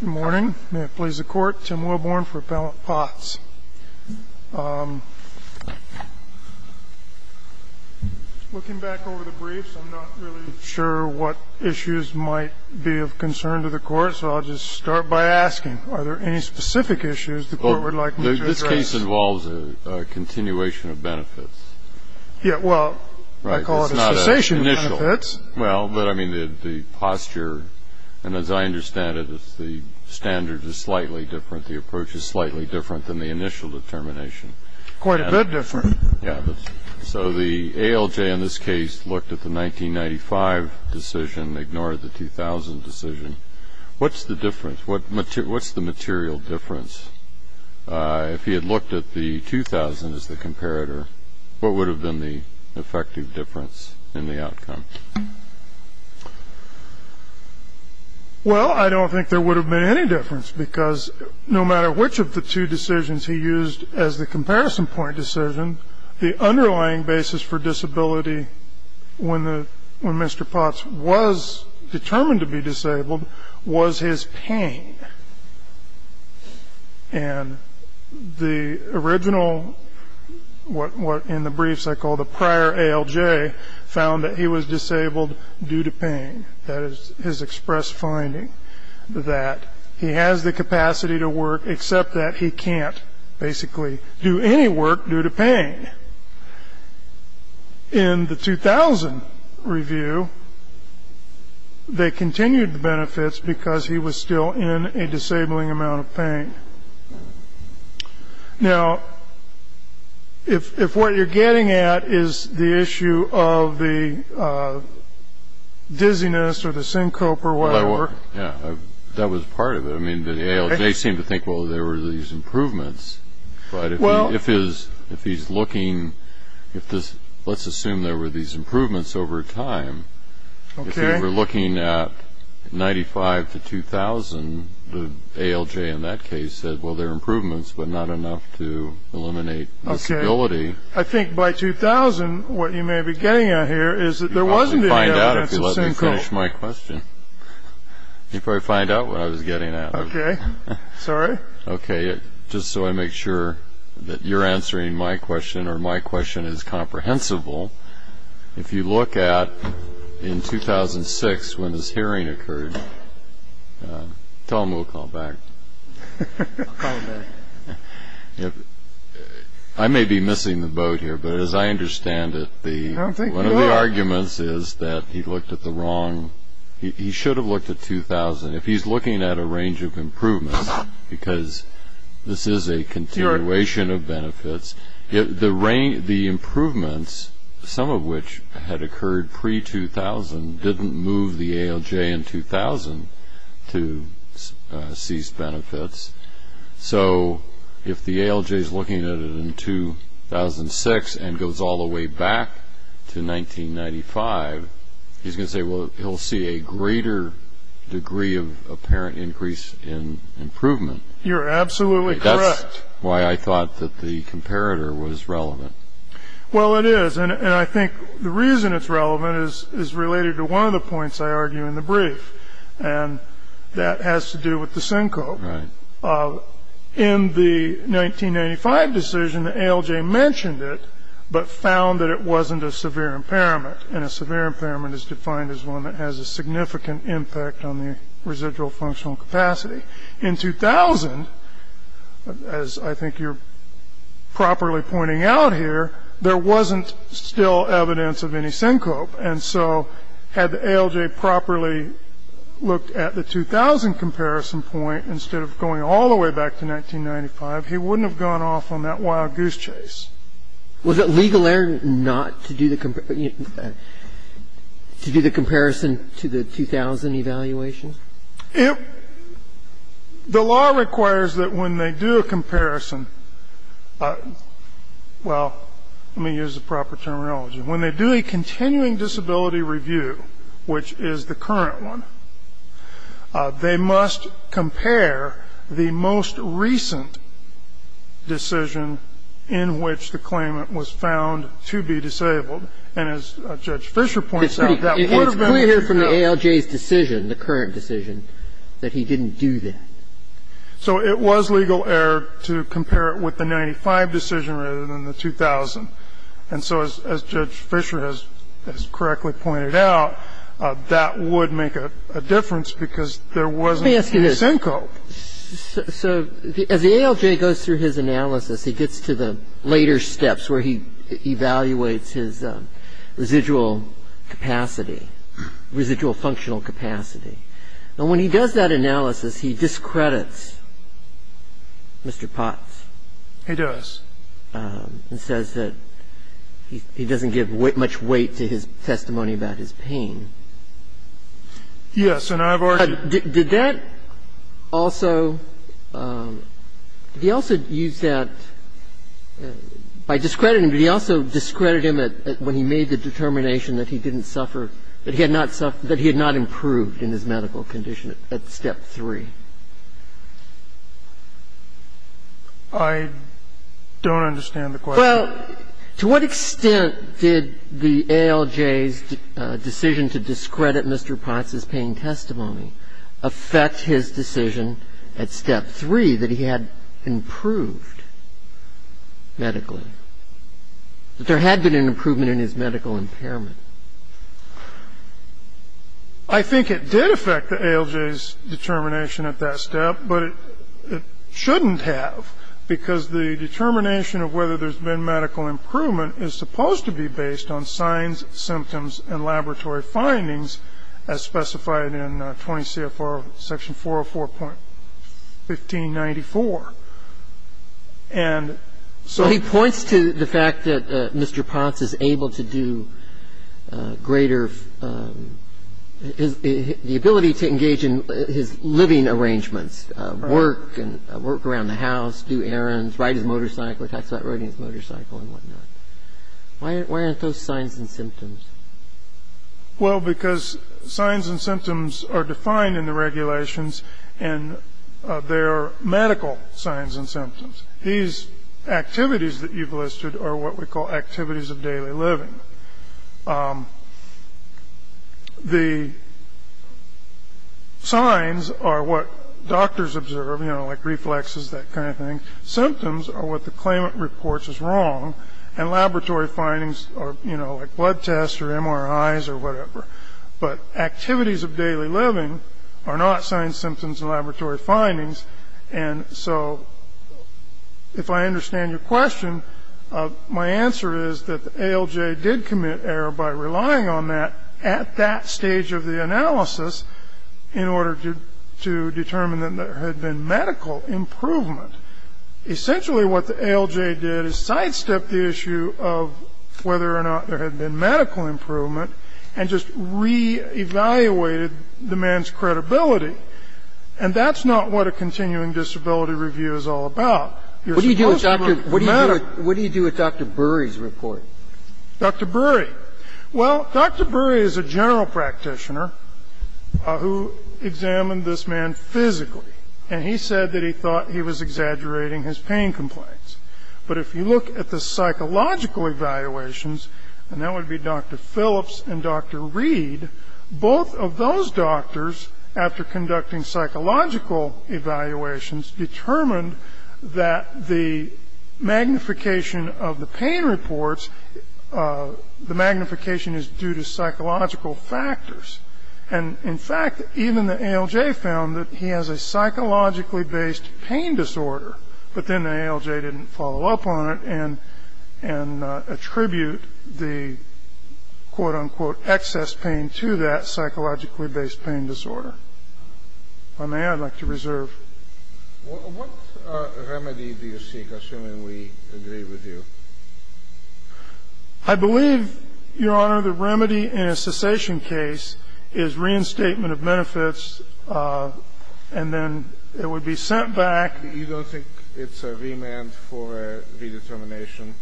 Good morning. May it please the Court, Tim Wilborne for Appellant Potts. Looking back over the briefs, I'm not really sure what issues might be of concern to the Court, so I'll just start by asking, are there any specific issues the Court would like me to address? This case involves a continuation of benefits. Yeah, well, I call it a cessation of benefits. Well, I mean, the posture, and as I understand it, the standards are slightly different, the approach is slightly different than the initial determination. Quite a bit different. Yeah, so the ALJ in this case looked at the 1995 decision, ignored the 2000 decision. What's the difference? What's the material difference? If he had looked at the 2000 as the comparator, what would have been the effective difference in the outcome? Well, I don't think there would have been any difference, because no matter which of the two decisions he used as the comparison point decision, the underlying basis for disability when Mr. Potts was determined to be disabled was his pain. And the original, what in the briefs I call the prior ALJ, found that he was disabled due to pain. That is his express finding, that he has the capacity to work, except that he can't basically do any work due to pain. In the 2000 review, they continued the benefits because he was still in a disabling amount of pain. Now, if what you're getting at is the issue of the dizziness or the syncope or whatever... Yeah, that was part of it. I mean, the ALJ seemed to think, well, there were these improvements, but if he's looking, let's assume there were these improvements over time, if you were looking at 95 to 2000, the ALJ in that case said, well, there are improvements, but not enough to eliminate disability. I think by 2000, what you may be getting at here is that there wasn't any... You'll probably find out if you let me finish my question. You'll probably find out what I was getting at. Okay, sorry. Okay, just so I make sure that you're answering my question or my question is comprehensible, if you look at in 2006 when this hearing occurred, tell him we'll call him back. I'll call him back. I may be missing the boat here, but as I understand it, one of the arguments is that he looked at the wrong... He should have looked at 2000. If he's looking at a range of improvements, because this is a continuation of benefits, the improvements, some of which had occurred pre-2000, didn't move the ALJ in 2000 to cease benefits. So if the ALJ is looking at it in 2006 and goes all the way back to 1995, he's going to say, well, he'll see a greater degree of apparent increase in improvement. You're absolutely correct. Why I thought that the comparator was relevant. Well, it is, and I think the reason it's relevant is related to one of the points I argue in the brief, and that has to do with the SYNCO. In the 1995 decision, the ALJ mentioned it but found that it wasn't a severe impairment, and a severe impairment is defined as one that has a significant impact on the residual functional capacity. In 2000, as I think you're properly pointing out here, there wasn't still evidence of any SYNCO. And so had the ALJ properly looked at the 2000 comparison point instead of going all the way back to 1995, he wouldn't have gone off on that wild goose chase. Was it legal error not to do the comparison to the 2000 evaluation? The law requires that when they do a comparison, well, let me use the proper terminology, when they do a continuing disability review, which is the current one, they must compare the most recent decision in which the claimant was found to be disabled. And as Judge Fischer points out, that would have been the case. It's clear here from the ALJ's decision, the current decision, that he didn't do that. So it was legal error to compare it with the 1995 decision rather than the 2000. And so as Judge Fischer has correctly pointed out, that would make a difference because there wasn't any SYNCO. So as the ALJ goes through his analysis, he gets to the later steps where he evaluates his residual capacity, residual functional capacity. And when he does that analysis, he discredits Mr. Potts. He does. He says that he doesn't give much weight to his testimony about his pain. Yes. And I've already said that. Did that also, did he also use that, by discrediting him, did he also discredit him when he made the determination that he didn't suffer, that he had not suffered, that he had not improved in his medical condition at step 3? I don't understand the question. Well, to what extent did the ALJ's decision to discredit Mr. Potts's pain testimony affect his decision at step 3 that he had improved medically, that there had been an improvement in his medical impairment? I think it did affect the ALJ's determination at that step, but it shouldn't have, because the determination of whether there's been medical improvement is supposed to be based on signs, symptoms, and laboratory findings as specified in 20 CFR section 404.1594. And so he points to the fact that Mr. Potts is able to do greater, the ability to engage in his living arrangements, work and work around the house, do errands, ride his motorcycle. It talks about riding his motorcycle and whatnot. Why aren't those signs and symptoms? Well, because signs and symptoms are defined in the regulations, and they're medical signs and symptoms. These activities that you've listed are what we call activities of daily living. The signs are what doctors observe, you know, like reflexes, that kind of thing. Symptoms are what the claimant reports as wrong, and laboratory findings are, you know, like blood tests or MRIs or whatever. But activities of daily living are not signs, symptoms, and laboratory findings. And so if I understand your question, my answer is that the ALJ did commit error by relying on that at that stage of the analysis in order to determine that there had been medical improvement. Essentially what the ALJ did is sidestepped the issue of whether or not there had been medical improvement and just re-evaluated the man's credibility. And that's not what a continuing disability review is all about. You're supposed to run from the matter. Breyer. What do you do with Dr. Burry's report? Dr. Burry. Well, Dr. Burry is a general practitioner who examined this man physically, and he said that he thought he was exaggerating his pain complaints. But if you look at the psychological evaluations, and that would be Dr. Phillips and Dr. Reed, both of those doctors, after conducting psychological evaluations, determined that the magnification of the pain reports, the magnification is due to psychological factors. And, in fact, even the ALJ found that he has a psychologically-based pain disorder. But then the ALJ didn't follow up on it and attribute the, quote, unquote, excess pain to that psychologically-based pain disorder. If I may, I'd like to reserve. What remedy do you seek, assuming we agree with you? I believe, Your Honor, the remedy in a cessation case is reinstatement of benefits, and then it would be sent back. You don't think it's a remand for redetermination?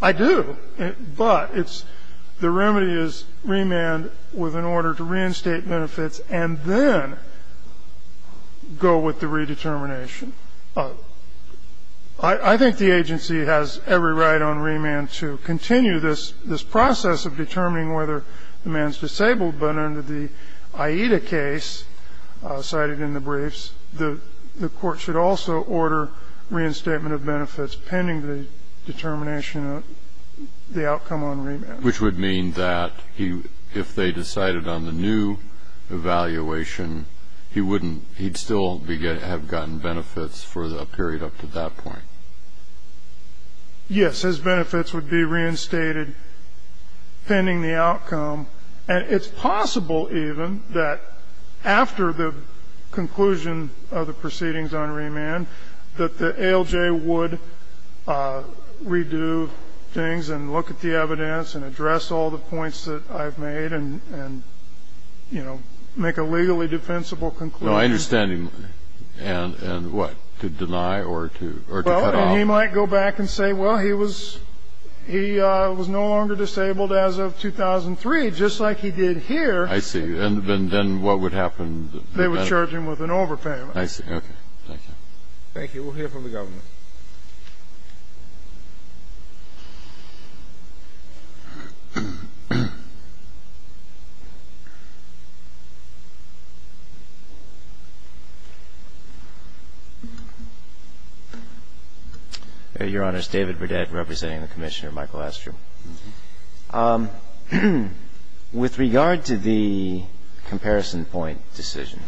I do. But it's the remedy is remand with an order to reinstate benefits and then go with the redetermination. I think the agency has every right on remand to continue this process of determining whether the man is disabled. But under the AIDA case cited in the briefs, the court should also order reinstatement of benefits pending the determination of the outcome on remand. Which would mean that if they decided on the new evaluation, he'd still have gotten benefits for a period up to that point. Yes, his benefits would be reinstated pending the outcome. And it's possible, even, that after the conclusion of the proceedings on remand that the ALJ would redo things and look at the evidence and address all the points that I've made and, you know, make a legally defensible conclusion. No, I understand. And he might go back and say, well, he was no longer disabled as of 2003, just like he did here. I see. And then what would happen? They would charge him with an overpayment. I see. Okay. Thank you. Thank you. We'll hear from the government. Your Honor, this is David Burdett representing the Commissioner, Michael Astrum. With regard to the comparison point decision,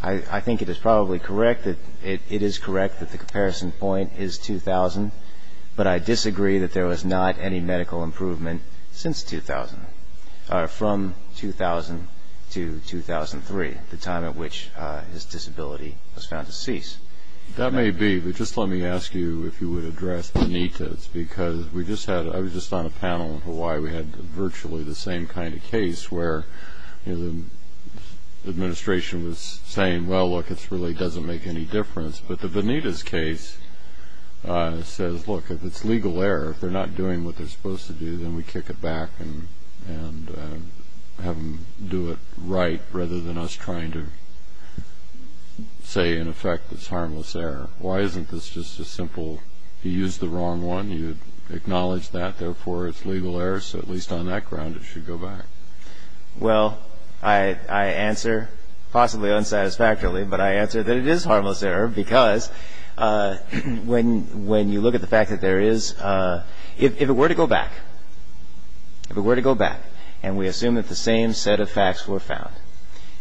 I think it is probably correct that it is correct that the comparison point is 2000, but I disagree that there was not any medical improvement since 2000, from 2000 to 2003, the time at which his disability was found to cease. That may be. But just let me ask you if you would address Venita's, because we just had I was just on a panel in Hawaii. We had virtually the same kind of case where the administration was saying, well, look, it really doesn't make any difference. But the Venita's case says, look, if it's legal error, if they're not doing what they're supposed to do, then we kick it back and have them do it right rather than us trying to say, in effect, it's harmless error. Why isn't this just a simple, you used the wrong one, you acknowledge that, therefore it's legal error, so at least on that ground it should go back? Well, I answer, possibly unsatisfactorily, but I answer that it is harmless error because when you look at the fact that there is, if it were to go back, if it were to go back, and we assume that the same set of facts were found,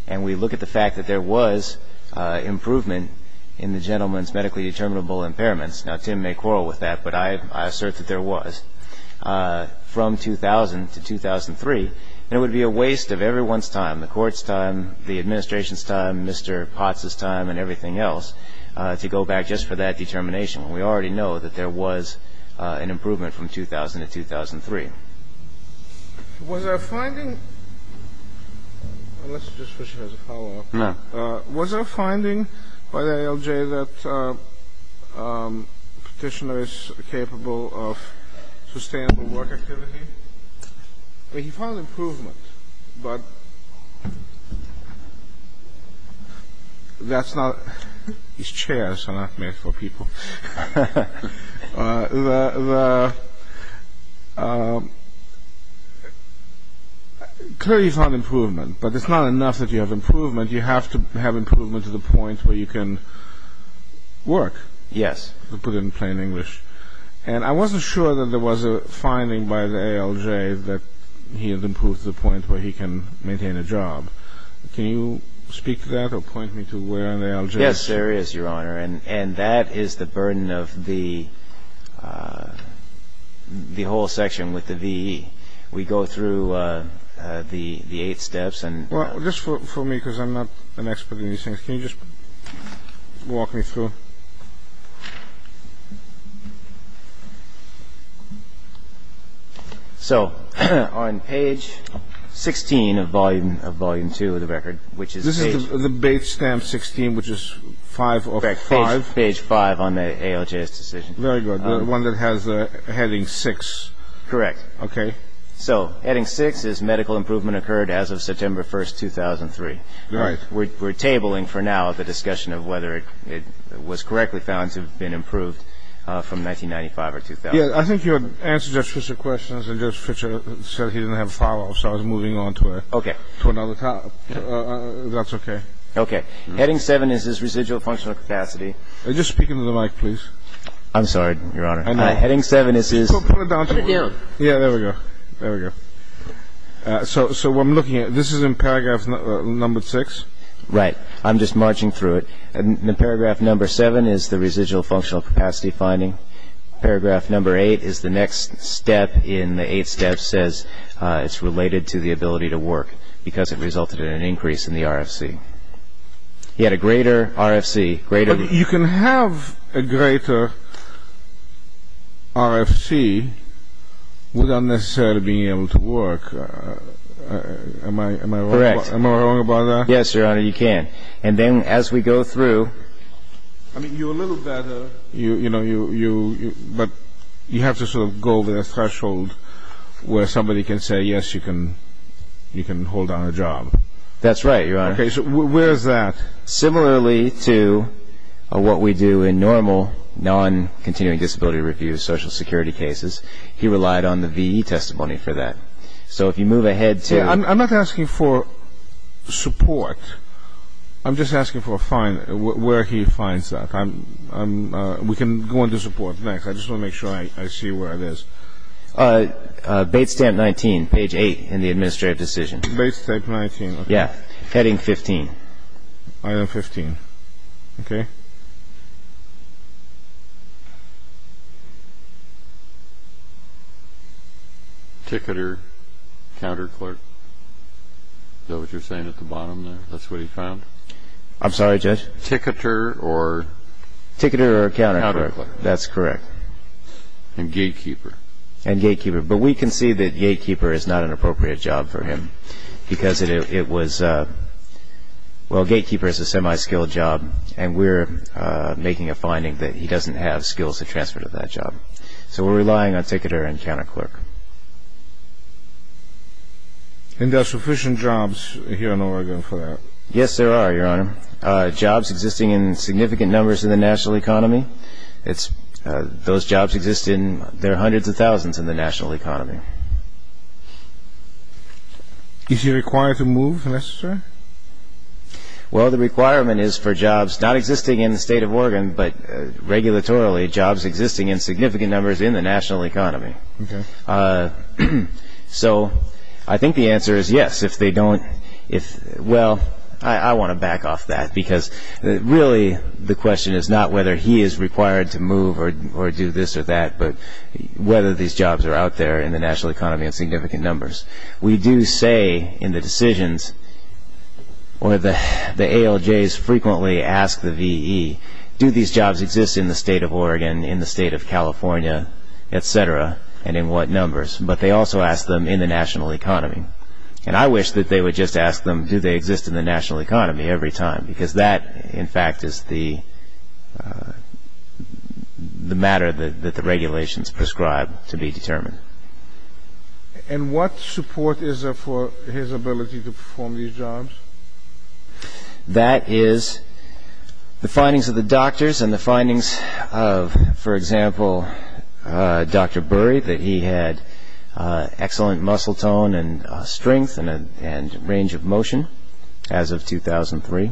and we look at the fact that there was improvement in the gentleman's medically determinable impairments, now Tim may quarrel with that, but I assert that there was, from 2000 to 2003, then it would be a waste of everyone's time, the court's time, the administration's time, Mr. Potts' time, and everything else, to go back just for that determination. And we already know that there was an improvement from 2000 to 2003. Was there a finding, unless you just wish to have a follow-up, was there a finding by the ALJ that Petitioner is capable of sustainable work activity? I mean, he found improvement, but that's not, his chairs are not made for people. Clearly he found improvement, but it's not enough that you have improvement, you have to have improvement to the point where you can work, to put it in plain English. And I wasn't sure that there was a finding by the ALJ that he had improved to the point where he can maintain a job. Can you speak to that or point me to where the ALJ is? Yes, there is, Your Honor, and that is the burden of the whole section with the VE. We go through the eight steps. Well, just for me, because I'm not an expert in these things, can you just walk me through? So, on page 16 of volume 2 of the record, which is page... This is the base stamp 16, which is 5 of 5. Page 5 on the ALJ's decision. Very good. The one that has the heading 6. Correct. Okay. So, heading 6 is medical improvement occurred as of September 1, 2003. Right. We're tabling for now the discussion of whether it was correctly found to have been improved from 1995 or 2000. Yes, I think you answered Judge Fischer's questions, and Judge Fischer said he didn't have a follow-up, so I was moving on to another topic. Okay. If that's okay. Okay. Heading 7 is his residual functional capacity. Just speak into the mic, please. I'm sorry, Your Honor. Heading 7 is his... Put it down. Yeah, there we go. There we go. So, what I'm looking at, this is in paragraph number 6. Right. I'm just marching through it. In paragraph number 7 is the residual functional capacity finding. Paragraph number 8 is the next step in the 8 steps says it's related to the ability to work, because it resulted in an increase in the RFC. He had a greater RFC, greater... Without necessarily being able to work. Am I wrong about that? Correct. Yes, Your Honor, you can. And then as we go through... I mean, you're a little better, but you have to sort of go over the threshold where somebody can say, yes, you can hold on a job. That's right, Your Honor. Okay, so where is that? Similarly to what we do in normal non-continuing disability review social security cases, he relied on the VE testimony for that. So if you move ahead to... I'm not asking for support. I'm just asking for a find, where he finds that. We can go into support next. I just want to make sure I see where it is. Bates Stamp 19, page 8 in the administrative decision. Bates Stamp 19. Yeah. Heading 15. Item 15. Okay. Okay. Ticketer, counterclerk. Is that what you're saying at the bottom there? That's what he found? I'm sorry, Judge? Ticketer or... Ticketer or counterclerk. Counterclerk. That's correct. And gatekeeper. And gatekeeper. But we can see that gatekeeper is not an appropriate job for him because it was... Well, gatekeeper is a semi-skilled job, and we're making a finding that he doesn't have skills to transfer to that job. So we're relying on ticketer and counterclerk. And there are sufficient jobs here in Oregon for that? Yes, there are, Your Honor. Jobs existing in significant numbers in the national economy. It's... Those jobs exist in... There are hundreds of thousands in the national economy. Okay. Is he required to move unless it's right? Well, the requirement is for jobs not existing in the state of Oregon, but regulatorily jobs existing in significant numbers in the national economy. Okay. So I think the answer is yes, if they don't... Well, I want to back off that because really the question is not whether he is required to move or do this or that, but whether these jobs are out there in the national economy in significant numbers. We do say in the decisions, or the ALJs frequently ask the VE, do these jobs exist in the state of Oregon, in the state of California, et cetera, and in what numbers? But they also ask them in the national economy. And I wish that they would just ask them do they exist in the national economy every time because that, in fact, is the matter that the regulations prescribe to be determined. And what support is there for his ability to perform these jobs? That is the findings of the doctors and the findings of, for example, Dr. Burry, that he had excellent muscle tone and strength and range of motion as of 2003.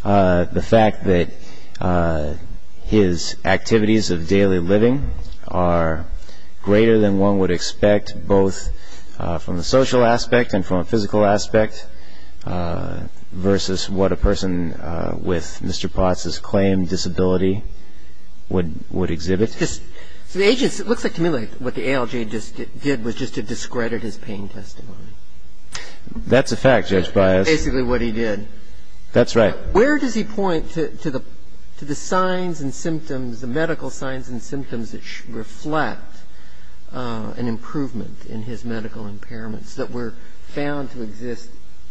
The fact that his activities of daily living are greater than one would expect, both from the social aspect and from a physical aspect, versus what a person with Mr. Potts's claimed disability would exhibit. It looks to me like what the ALJ did was just to discredit his pain testimony. That's a fact, Judge Bias. That's basically what he did. That's right. Where does he point to the signs and symptoms, the medical signs and symptoms, that reflect an improvement in his medical impairments that were found to exist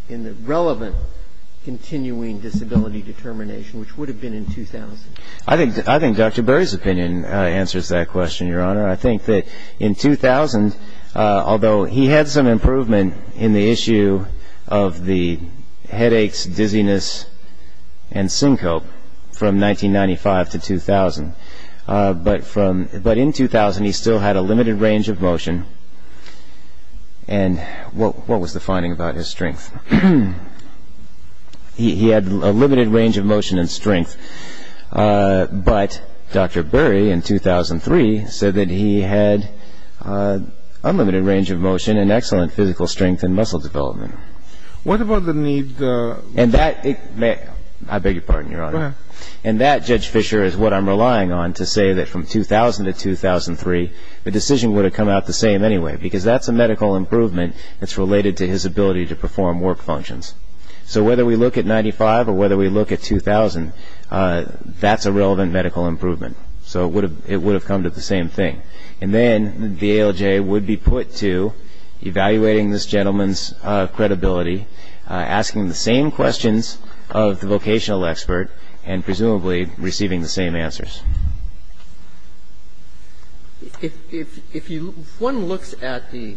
in the relevant continuing disability determination, which would have been in 2000? I think Dr. Burry's opinion answers that question, Your Honor. I think that in 2000, although he had some improvement in the issue of the headaches, dizziness, and syncope from 1995 to 2000, but in 2000 he still had a limited range of motion. And what was the finding about his strength? He had a limited range of motion and strength. But Dr. Burry, in 2003, said that he had unlimited range of motion and excellent physical strength and muscle development. What about the knee? I beg your pardon, Your Honor. Go ahead. And that, Judge Fischer, is what I'm relying on to say that from 2000 to 2003, the decision would have come out the same anyway, because that's a medical improvement that's related to his ability to perform work functions. So whether we look at 95 or whether we look at 2000, that's a relevant medical improvement. So it would have come to the same thing. And then the ALJ would be put to evaluating this gentleman's credibility, asking the same questions of the vocational expert, and presumably receiving the same answers. If one looks at the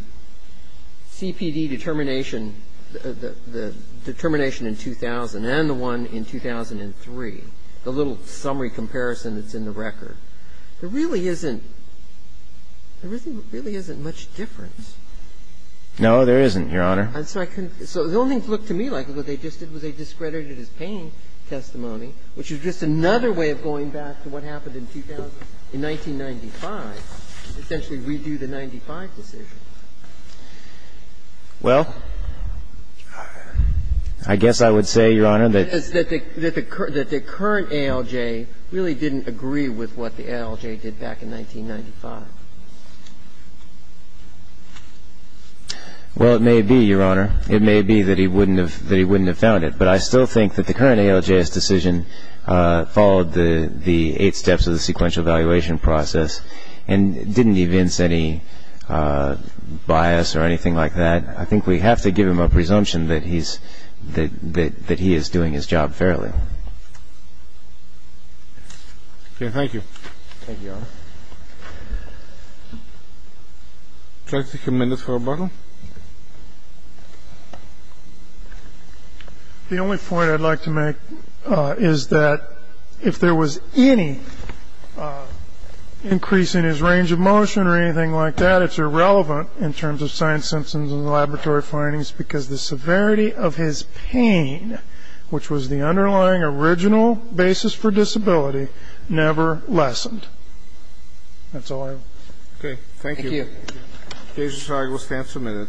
CPD determination, the determination in 2000 and the one in 2003, the little summary comparison that's in the record, there really isn't much difference. No, there isn't, Your Honor. So the only thing it looked to me like they discredited his pain testimony, which is just another way of going back to what happened in 2000. In 1995, essentially redo the 95 decision. Well, I guess I would say, Your Honor, that the current ALJ really didn't agree with what the ALJ did back in 1995. Well, it may be, Your Honor. It may be that he wouldn't have found it. But I still think that the current ALJ's decision followed the eight steps of the sequential evaluation process and didn't evince any bias or anything like that. I think we have to give him a presumption that he is doing his job fairly. Thank you, Your Honor. Would you like to take a minute for rebuttal? The only point I'd like to make is that if there was any increase in his range of motion or anything like that, it's irrelevant in terms of science symptoms and laboratory findings because the severity of his pain, which was the underlying original basis for disability, never lessened. That's all I have. Okay. Thank you. Thank you. The case is signed. We'll stand for a minute.